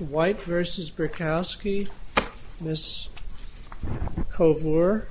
White v. Butkowski, Ms. Kovler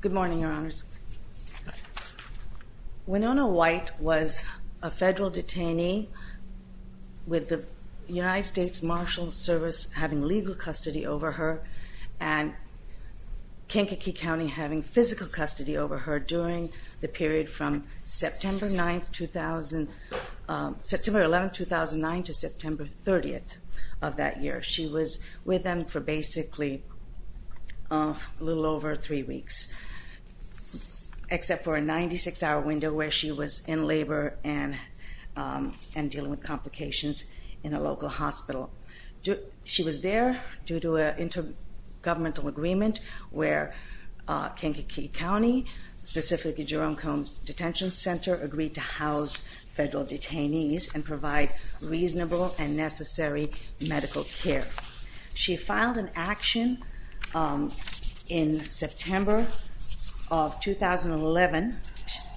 Good morning, Your Honors. Winona White was a federal detainee with the United States Marshal Service having legal custody over her and Kankakee County having physical custody over her during the period from September 9, 2000, September 11, 2009 to September 30th of that year. She was with them for basically a little over three weeks, except for a 96-hour window where she was in labor and dealing with complications in a local hospital. She was there due to an intergovernmental agreement where Kankakee County, specifically Jerome Combs Detention Center, agreed to house federal detainees and provide reasonable and She filed an action in September of 2011.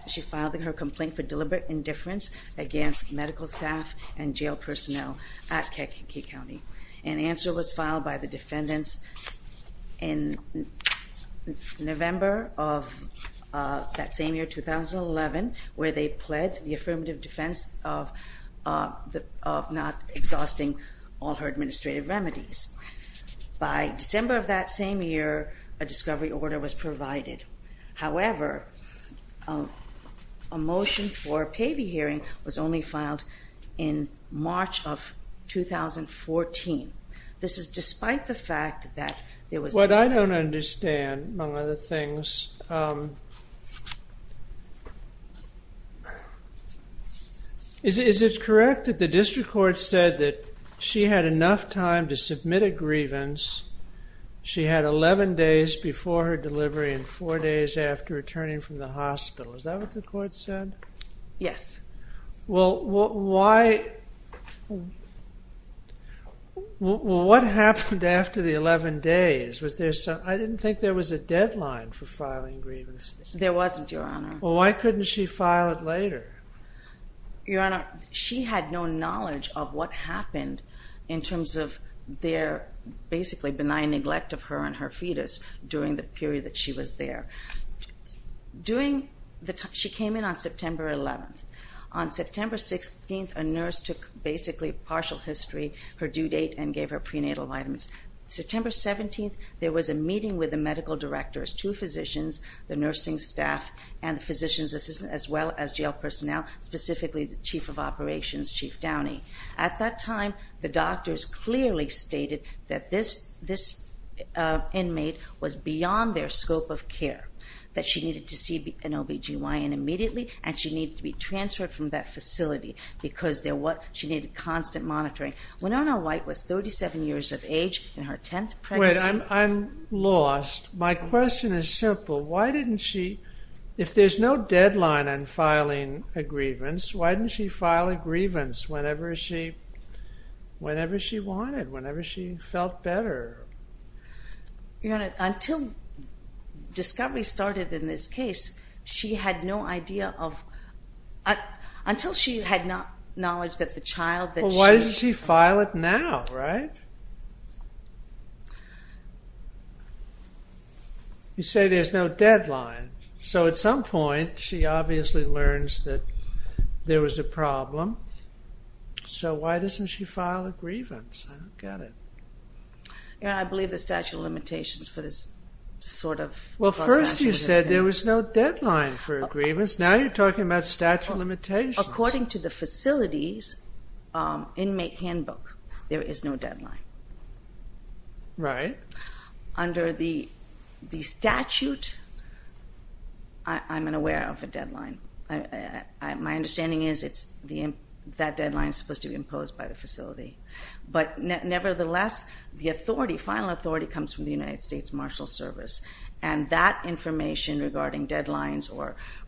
She filed her complaint for deliberate indifference against medical staff and jail personnel at Kankakee County. An answer was filed by the defendants in November of that same year, 2011, where they pled the remedies. By December of that same year, a discovery order was provided. However, a motion for a payee hearing was only filed in March of 2014. This is despite the fact that there was- What I don't understand, among other things, is it correct that the district court said that she had enough time to submit a grievance. She had 11 days before her delivery and four days after returning from the hospital. Is that what the court said? Yes. Well, what happened after the 11 days? I didn't think there was a deadline for filing grievances. There wasn't, Your Honor. Well, why couldn't she file it later? Your Honor, she had no knowledge of what happened in terms of their basically benign neglect of her and her fetus during the period that she was there. She came in on September 11th. On September 16th, a nurse took basically partial history, her due date, and gave her prenatal vitamins. September 17th, there was a meeting with the medical directors, two physicians, the nursing staff, and the physician's assistant, as well as jail personnel, specifically the chief of operations, Chief Downey. At that time, the doctors clearly stated that this inmate was beyond their scope of care, that she needed to see an OBGYN immediately, and she needed to be transferred from that facility because she needed constant monitoring. Winona White was 37 years of age in her 10th pregnancy. Wait, I'm lost. My question is simple. Why didn't she, if there's no deadline on filing a grievance, why didn't she file a grievance whenever she wanted, whenever she felt better? Your Honor, until discovery started in this case, she had no idea of, until she had knowledge that the child that she... Well, why doesn't she file it now, right? You say there's no deadline. So at some point, she obviously learns that there was a problem, so why doesn't she file a grievance? I don't get it. Your Honor, I believe the statute of limitations for this sort of... Well, first you said there was no deadline for a grievance, now you're talking about statute of limitations. According to the facility's inmate handbook, there is no deadline. Right. Under the statute, I'm unaware of a deadline. My understanding is that deadline is supposed to be imposed by the facility, but nevertheless, the final authority comes from the United States Marshal Service, and that information regarding deadlines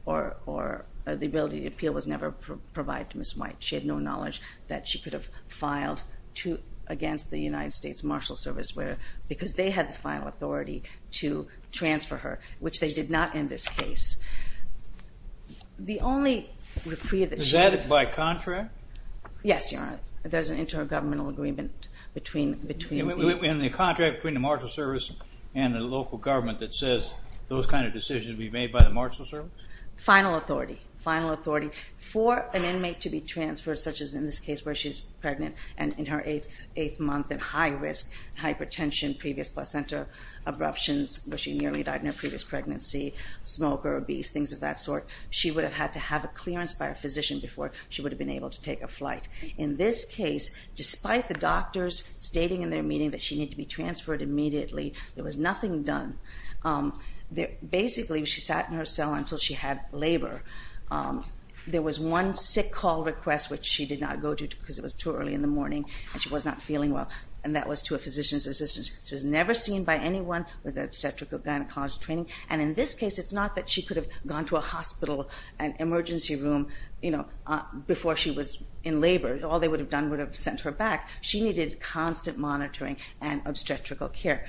or the ability to appeal was never provided to Ms. White. She had no knowledge that she could have filed against the United States Marshal Service because they had the final authority to transfer her, which they did not in this case. The only... Is that by contract? Yes, Your Honor. There's an intergovernmental agreement between... In the contract between the Marshal Service and the local government that says those kind of decisions be made by the Marshal Service? Final authority. Final authority. For an inmate to be transferred, such as in this case where she's pregnant and in her eighth month at high risk, hypertension, previous placenta abruptions where she nearly died in her previous pregnancy, smoke or obese, things of that sort, she would have had to have a clearance by her physician before she would have been able to take a flight. In this case, despite the doctors stating in their meeting that she needed to be transferred immediately, there was nothing done. Basically she sat in her cell until she had labor. There was one sick call request, which she did not go to because it was too early in the morning and she was not feeling well, and that was to a physician's assistance. She was never seen by anyone with obstetrical gynecology training, and in this case it's not that she could have gone to a hospital, an emergency room, you know, before she was in labor. All they would have done would have sent her back. She needed constant monitoring and obstetrical care.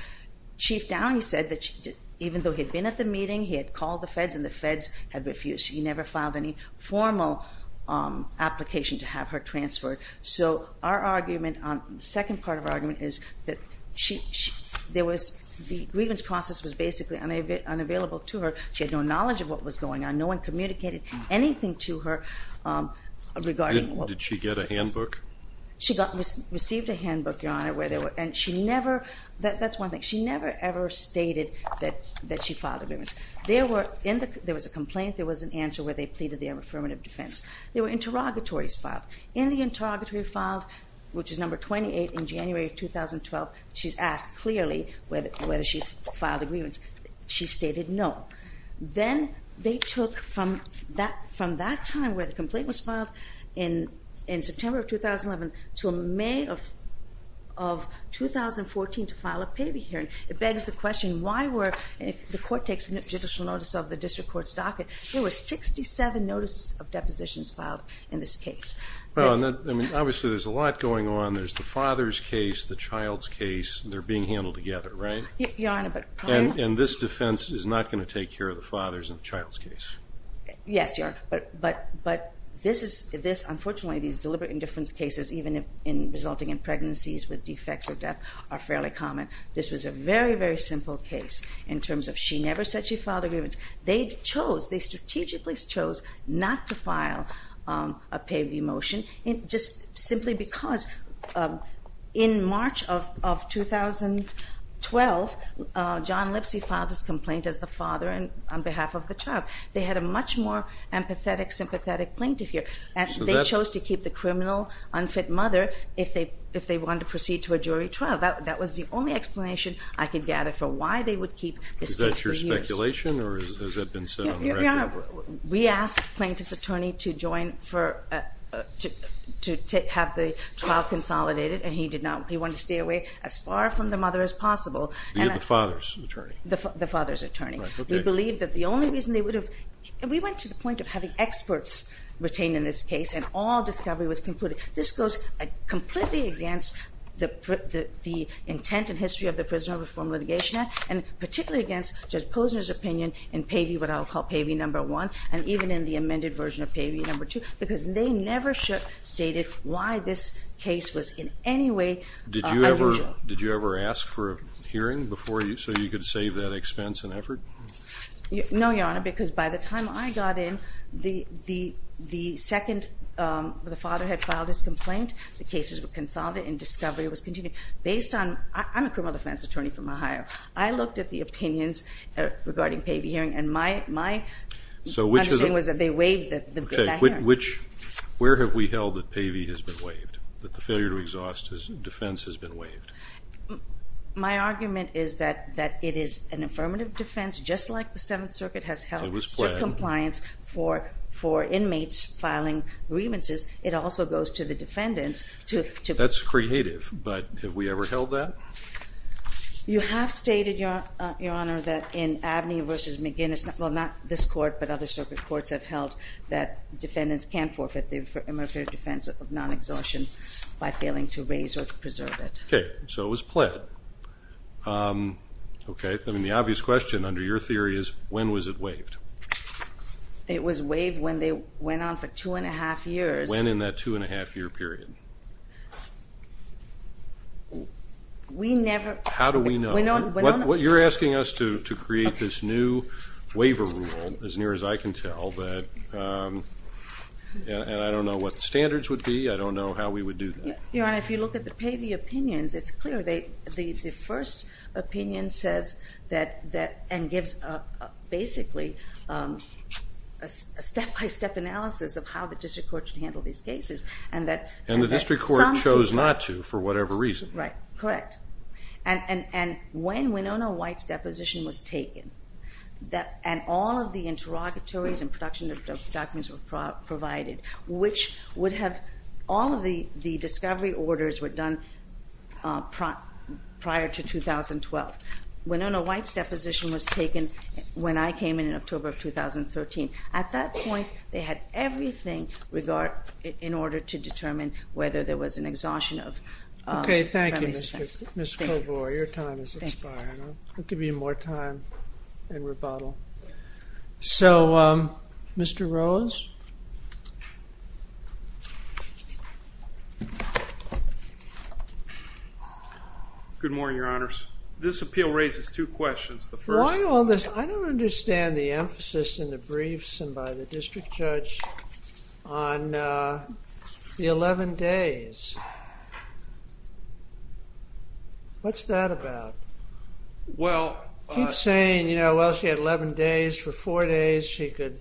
Chief Downey said that even though he had been at the meeting, he had called the feds and the feds had refused. He never filed any formal application to have her transferred. So our argument, the second part of our argument is that there was, the grievance process was basically unavailable to her. She had no knowledge of what was going on. No one communicated anything to her regarding... Did she get a handbook? She received a handbook, Your Honor, where there were, and she never, that's one thing, she never ever stated that she filed a grievance. There were, there was a complaint, there was an answer where they pleaded their affirmative defense. There were interrogatories filed. In the interrogatory filed, which is number 28, in January of 2012, she's asked clearly whether she filed a grievance. She stated no. Then they took from that, from that time where the complaint was filed in, in September of 2011 to May of, of 2014 to file a paybee hearing. It begs the question, why were, if the court takes judicial notice of the district court's docket, there were 67 notice of depositions filed in this case. Well, I mean, obviously there's a lot going on. There's the father's case, the child's case, they're being handled together, right? Your Honor, but... And, and this defense is not going to take care of the father's and the child's case. Yes, Your Honor, but, but, but this is, this, unfortunately, these deliberate indifference cases even in, resulting in pregnancies with defects or death are fairly common. This was a very, very simple case in terms of she never said she filed a grievance. They chose, they strategically chose not to file a paybee motion, just simply because in March of, of 2012, John Lipsy filed his complaint as the father on behalf of the child. They had a much more empathetic, sympathetic plaintiff here. And they chose to keep the criminal, unfit mother if they, if they wanted to proceed to a jury trial. That, that was the only explanation I could gather for why they would keep this case for years. Is that your speculation or has that been set on record? Your Honor, we asked the plaintiff's attorney to join for, to, to take, have the trial consolidated and he did not. He wanted to stay away as far from the mother as possible. And I... The, the father's attorney? The, the father's attorney. Right. Okay. We believe that the only reason they would have, and we went to the point of having experts retained in this case and all discovery was concluded. This goes completely against the, the, the intent and history of the Prisoner Reform Litigation Act and particularly against Judge Posner's opinion in paybee, what I'll call paybee number one, and even in the amended version of paybee number two, because they never should have stated why this case was in any way... Did you ever, did you ever ask for a hearing before you, so you could save that expense and effort? No, Your Honor, because by the time I got in, the, the, the second the father had filed his complaint, the cases were consolidated and discovery was continued. Based on... I'm a criminal defense attorney from Ohio. I looked at the opinions regarding paybee hearing and my, my... So which is... My understanding was that they waived that hearing. Okay. Which, where have we held that paybee has been waived, that the failure to exhaust defense has been waived? My argument is that, that it is an affirmative defense, just like the Seventh Circuit has held... It was planned. ...still compliance for, for inmates filing grievances. It also goes to the defendants to, to... That's creative, but have we ever held that? You have stated, Your Honor, that in Abney v. McGinnis, well, not this court, but other circuit courts have held that defendants can forfeit the affirmative defense of non-exhaustion by failing to raise or preserve it. Okay. So it was pled. Okay. I mean, the obvious question under your theory is, when was it waived? It was waived when they went on for two and a half years. When in that two and a half year period? We never... How do we know? We don't... You're asking us to, to create this new waiver rule, as near as I can tell, that, and I don't know what the standards would be, I don't know how we would do that. Your Honor, if you look at the paybee opinions, it's clear they, the, the first opinion says that, that, and gives a, a, basically, a step-by-step analysis of how the district court should handle these cases, and that... And the district court chose not to, for whatever reason. Right. Correct. And, and, and when Winona White's deposition was taken, that, and all of the interrogatories and production of documents were provided, which would have, all of the, the discovery orders were done prior to 2012. Winona White's deposition was taken when I came in, in October of 2013. At that point, they had everything regard, in order to determine whether there was an exhaustion of... Okay. Thank you, Ms. Kovoy. Your time is expiring. Thank you. I'll give you more time and rebuttal. So Mr. Rose? Good morning, Your Honors. This appeal raises two questions. The first... ...on the 11 days. What's that about? Well... I keep saying, you know, well, she had 11 days. For four days, she could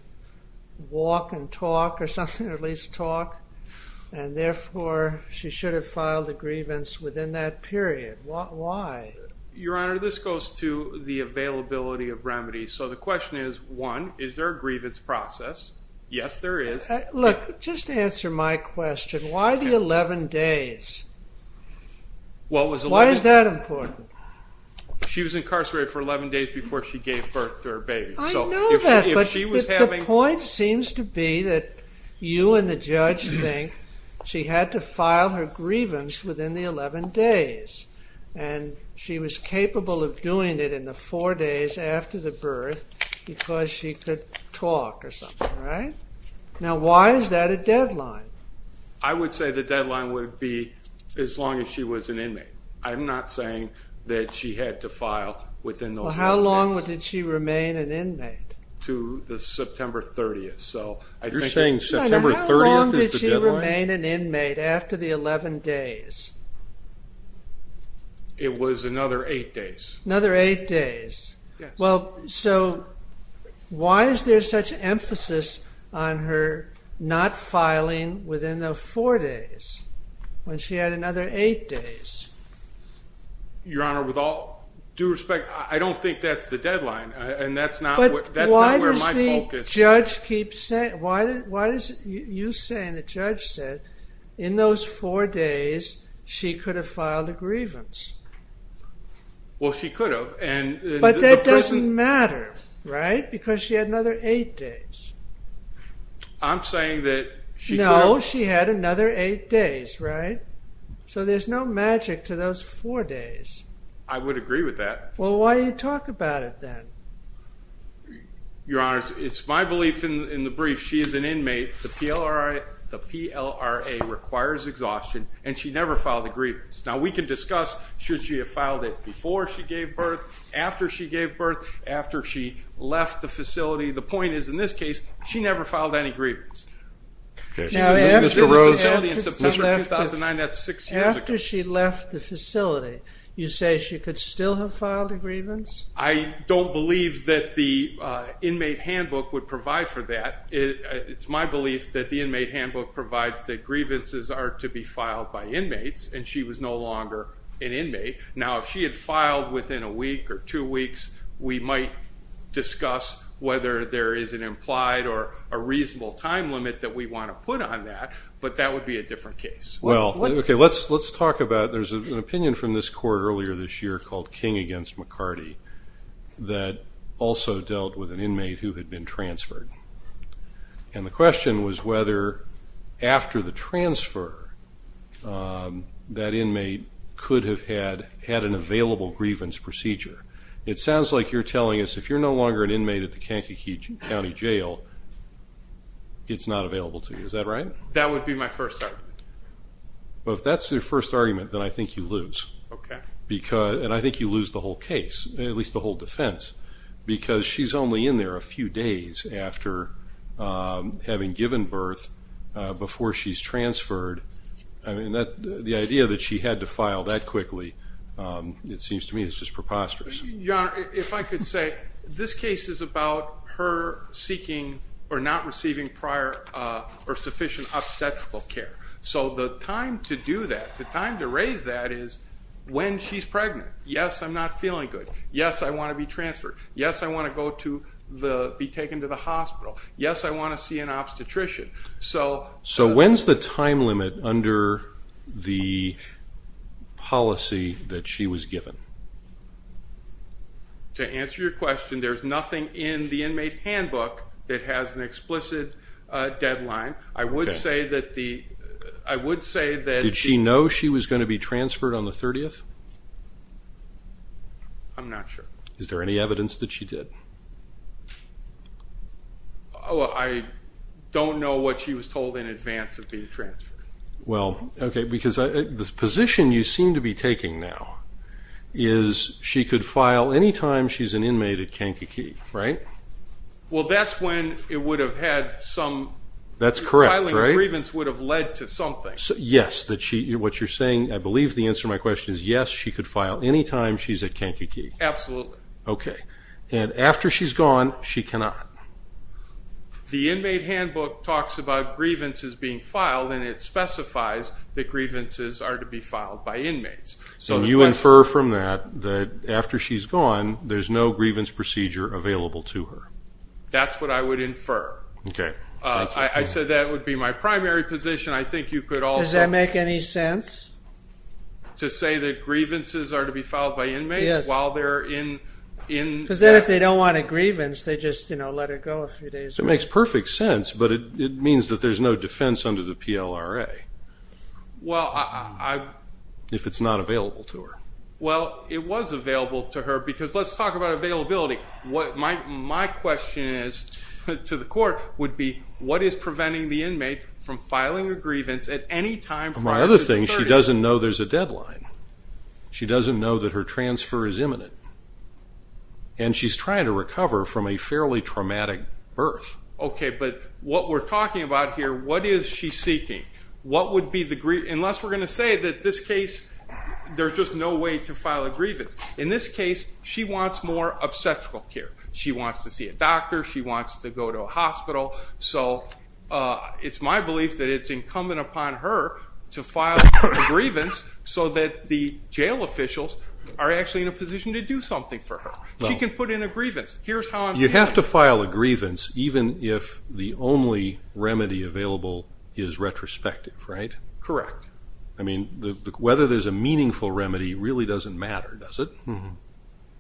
walk and talk or something, or at least talk. And therefore, she should have filed a grievance within that period. Why? Your Honor, this goes to the availability of remedies. So the question is, one, is there a grievance process? Yes, there is. Look, just answer my question. Why the 11 days? What was the... Why is that important? She was incarcerated for 11 days before she gave birth to her baby. I know that, but... If she was having... ...the point seems to be that you and the judge think she had to file her grievance within the 11 days. And she was capable of doing it in the four days after the birth because she could talk or something, right? Now, why is that a deadline? I would say the deadline would be as long as she was an inmate. I'm not saying that she had to file within those four days. Well, how long did she remain an inmate? To the September 30th. So I think... You're saying September 30th is the deadline? How long did she remain an inmate after the 11 days? It was another eight days. Another eight days. Yes. Well, so why is there such emphasis on her not filing within the four days when she had another eight days? Your Honor, with all due respect, I don't think that's the deadline, and that's not where my focus is. But why does the judge keep saying... Why is it you say, and the judge said, in those four days, she could have filed a grievance? Well, she could have. But that doesn't matter, right? Because she had another eight days. I'm saying that she could have... No, she had another eight days, right? So there's no magic to those four days. I would agree with that. Well, why do you talk about it then? Your Honor, it's my belief in the brief, she is an inmate. The PLRA requires exhaustion, and she never filed a grievance. Now, we can discuss should she have filed it before she gave birth, after she gave birth, after she left the facility. The point is, in this case, she never filed any grievance. Now, after she left the facility in September 2009, that's six years ago. After she left the facility, you say she could still have filed a grievance? I don't believe that the inmate handbook would provide for that. It's my belief that the inmate handbook provides that grievances are to be filed by inmates, and she was no longer an inmate. Now, if she had filed within a week or two weeks, we might discuss whether there is an implied or a reasonable time limit that we want to put on that, but that would be a different case. Well, OK, let's talk about... We heard from this court earlier this year called King v. McCarty that also dealt with an inmate who had been transferred. And the question was whether, after the transfer, that inmate could have had an available grievance procedure. It sounds like you're telling us if you're no longer an inmate at the Kankakee County Jail, it's not available to you. Is that right? That would be my first argument. Well, if that's your first argument, then I think you lose. And I think you lose the whole case, at least the whole defense, because she's only in there a few days after having given birth, before she's transferred. The idea that she had to file that quickly, it seems to me, is just preposterous. Your Honor, if I could say, this case is about her seeking prior or sufficient obstetrical care. So the time to do that, the time to raise that is when she's pregnant. Yes, I'm not feeling good. Yes, I want to be transferred. Yes, I want to be taken to the hospital. Yes, I want to see an obstetrician. So when's the time limit under the policy that she was given? To answer your question, there's nothing in the inmate handbook that has an explicit deadline. I would say that the ---- Did she know she was going to be transferred on the 30th? I'm not sure. Is there any evidence that she did? I don't know what she was told in advance of being transferred. Well, okay, because the position you seem to be taking now is she could file anytime she's an inmate at Kankakee, right? Well, that's when it would have had some ---- That's correct, right? Filing a grievance would have led to something. Yes, what you're saying, I believe the answer to my question is yes, she could file anytime she's at Kankakee. Absolutely. Okay. And after she's gone, she cannot? The inmate handbook talks about grievances being filed, and it specifies that grievances are to be filed by inmates. And you infer from that that after she's gone, there's no grievance procedure available to her. That's what I would infer. Okay. I said that would be my primary position. I think you could also ---- Does that make any sense? To say that grievances are to be filed by inmates while they're in ---- Because then if they don't want a grievance, they just let her go a few days. It makes perfect sense, but it means that there's no defense under the PLRA. Well, I ---- If it's not available to her. Well, it was available to her because let's talk about availability. My question is to the court would be, what is preventing the inmate from filing a grievance at any time prior to the 30th? My other thing, she doesn't know there's a deadline. She doesn't know that her transfer is imminent. And she's trying to recover from a fairly traumatic birth. Okay, but what we're talking about here, what is she seeking? What would be the ---- Unless we're going to say that this case, there's just no way to file a grievance. In this case, she wants more obstetrical care. She wants to see a doctor. She wants to go to a hospital. So it's my belief that it's incumbent upon her to file a grievance so that the jail officials are actually in a position to do something for her. She can put in a grievance. Here's how I'm ---- You have to file a grievance even if the only remedy available is retrospective, right? Correct. I mean, whether there's a meaningful remedy really doesn't matter, does it?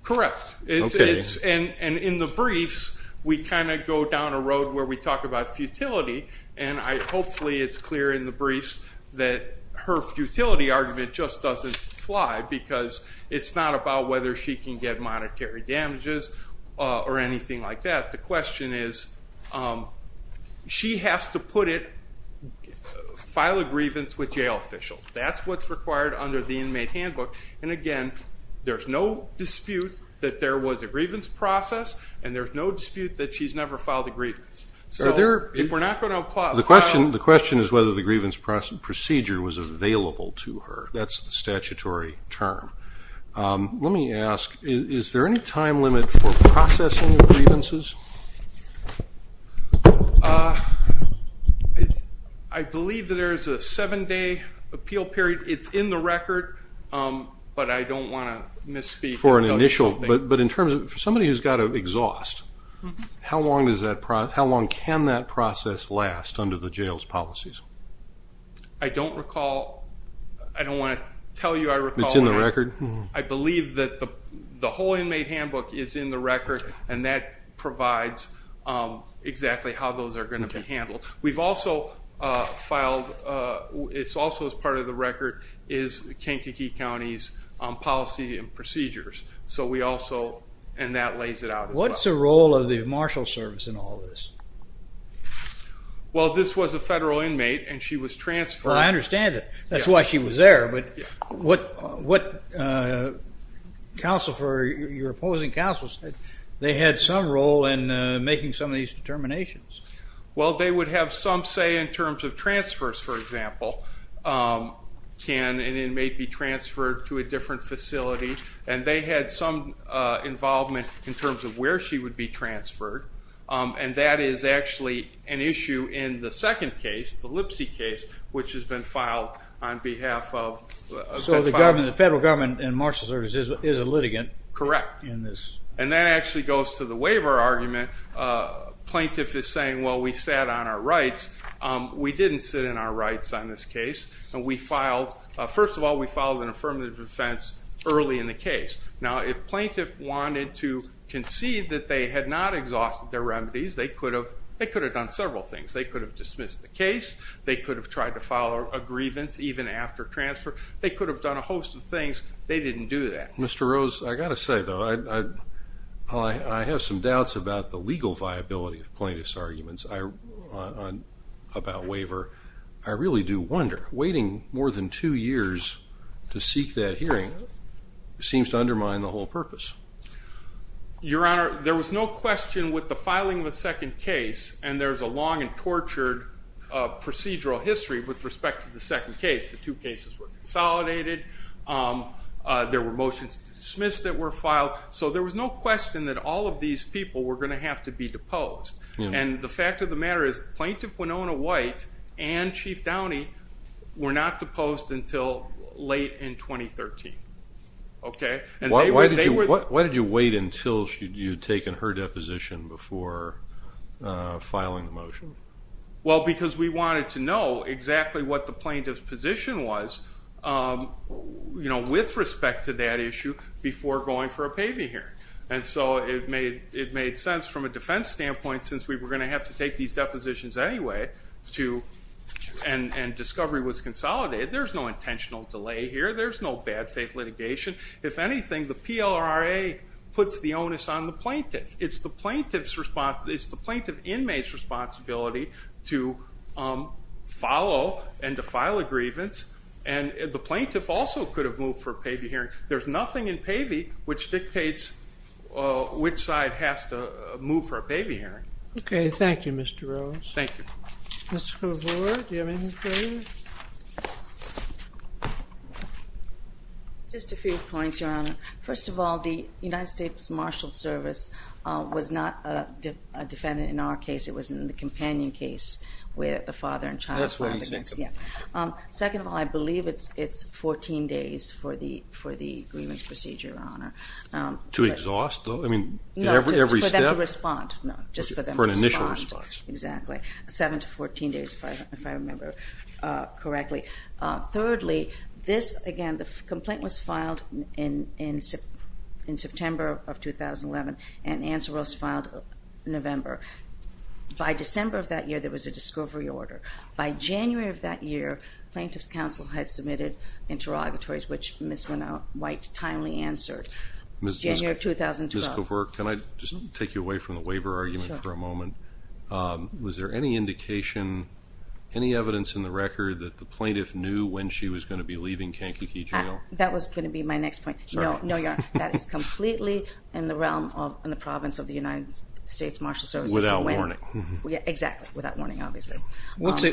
Correct. Okay. And in the briefs, we kind of go down a road where we talk about futility, and hopefully it's clear in the briefs that her futility argument just doesn't fly because it's not about whether she can get monetary damages or anything like that. The question is, she has to put it, file a grievance with jail officials. That's what's required under the inmate handbook. And again, there's no dispute that there was a grievance process, and there's no dispute that she's never filed a grievance. So if we're not going to apply ---- The question is whether the grievance procedure was available to her. That's the statutory term. Let me ask, is there any time limit for processing grievances? I believe that there is a seven-day appeal period. It's in the record, but I don't want to misspeak. For an initial. But in terms of somebody who's got to exhaust, how long can that process last under the jail's policies? I don't recall. I don't want to tell you I recall. It's in the record? I believe that the whole inmate handbook is in the record, and that provides exactly how those are going to be handled. We've also filed, it's also part of the record, is Kankakee County's policy and procedures. So we also, and that lays it out as well. What's the role of the marshal service in all this? Well, this was a federal inmate, and she was transferred. I understand that. That's why she was there. But what counsel for your opposing counsel said, they had some role in making some of these determinations. Well, they would have some say in terms of transfers, for example. Can an inmate be transferred to a different facility? And they had some involvement in terms of where she would be transferred, and that is actually an issue in the second case, the Lipsey case, which has been filed on behalf of. So the federal government and marshal service is a litigant? Correct. And that actually goes to the waiver argument. Plaintiff is saying, well, we sat on our rights. We didn't sit on our rights on this case. First of all, we filed an affirmative defense early in the case. Now, if plaintiff wanted to concede that they had not exhausted their remedies, they could have done several things. They could have dismissed the case. They could have tried to file a grievance even after transfer. They could have done a host of things. They didn't do that. Mr. Rose, I've got to say, though, I have some doubts about the legal viability of plaintiff's arguments about waiver. I really do wonder. Waiting more than two years to seek that hearing seems to undermine the whole purpose. Your Honor, there was no question with the filing of the second case, and there's a long and tortured procedural history with respect to the second case. The two cases were consolidated. There were motions to dismiss that were filed. So there was no question that all of these people were going to have to be deposed. And the fact of the matter is Plaintiff Winona White and Chief Downey were not deposed until late in 2013. Why did you wait until you had taken her deposition before filing the motion? Well, because we wanted to know exactly what the plaintiff's position was with respect to that issue before going for a paving hearing. And so it made sense from a defense standpoint, since we were going to have to take these depositions anyway, and discovery was consolidated. There's no intentional delay here. There's no bad faith litigation. If anything, the PLRRA puts the onus on the plaintiff. It's the plaintiff's responsibility. It's the plaintiff inmate's responsibility to follow and to file a grievance. And the plaintiff also could have moved for a paving hearing. There's nothing in paving which dictates which side has to move for a paving hearing. Okay. Thank you, Mr. Rose. Thank you. Mr. Hoover, do you have anything for me? Just a few points, Your Honor. First of all, the United States Marshals Service was not a defendant in our case. It was in the companion case where the father and child filed a grievance. That's what he's making. Yeah. Second of all, I believe it's 14 days for the grievance procedure, Your Honor. To exhaust, though? I mean, every step? No, for them to respond. No, just for them to respond. For an initial response. Exactly. Seven to 14 days, if I remember correctly. Thirdly, this, again, the complaint was filed in September of 2011, and answer was filed in November. By December of that year, there was a discovery order. By January of that year, Plaintiff's Counsel had submitted interrogatories, which Ms. White timely answered. Ms. Hoover, can I just take you away from the waiver argument for a moment? Was there any indication, any evidence in the record that the plaintiff knew when she was going to be leaving Kankakee Jail? That was going to be my next point. No, Your Honor. That is completely in the realm of the province of the United States Marshals Service. Without warning. Exactly. Without warning, obviously. What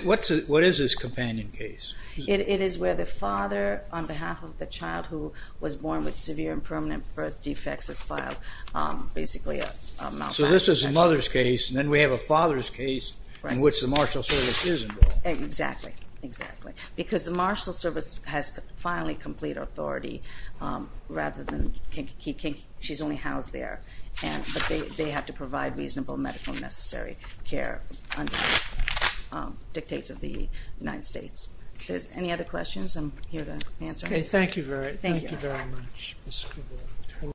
is this companion case? It is where the father, on behalf of the child who was born with severe and permanent birth defects, is filed. Basically a malpractice case. So this is a mother's case, and then we have a father's case in which the Marshals Service is involved. Exactly. Exactly. Because the Marshals Service has finally complete authority, rather than Kankakee. She's only housed there. But they have to provide reasonable medical and necessary care under the dictates of the United States. If there's any other questions, I'm here to answer them. Okay. Thank you very much, Ms. Hoover.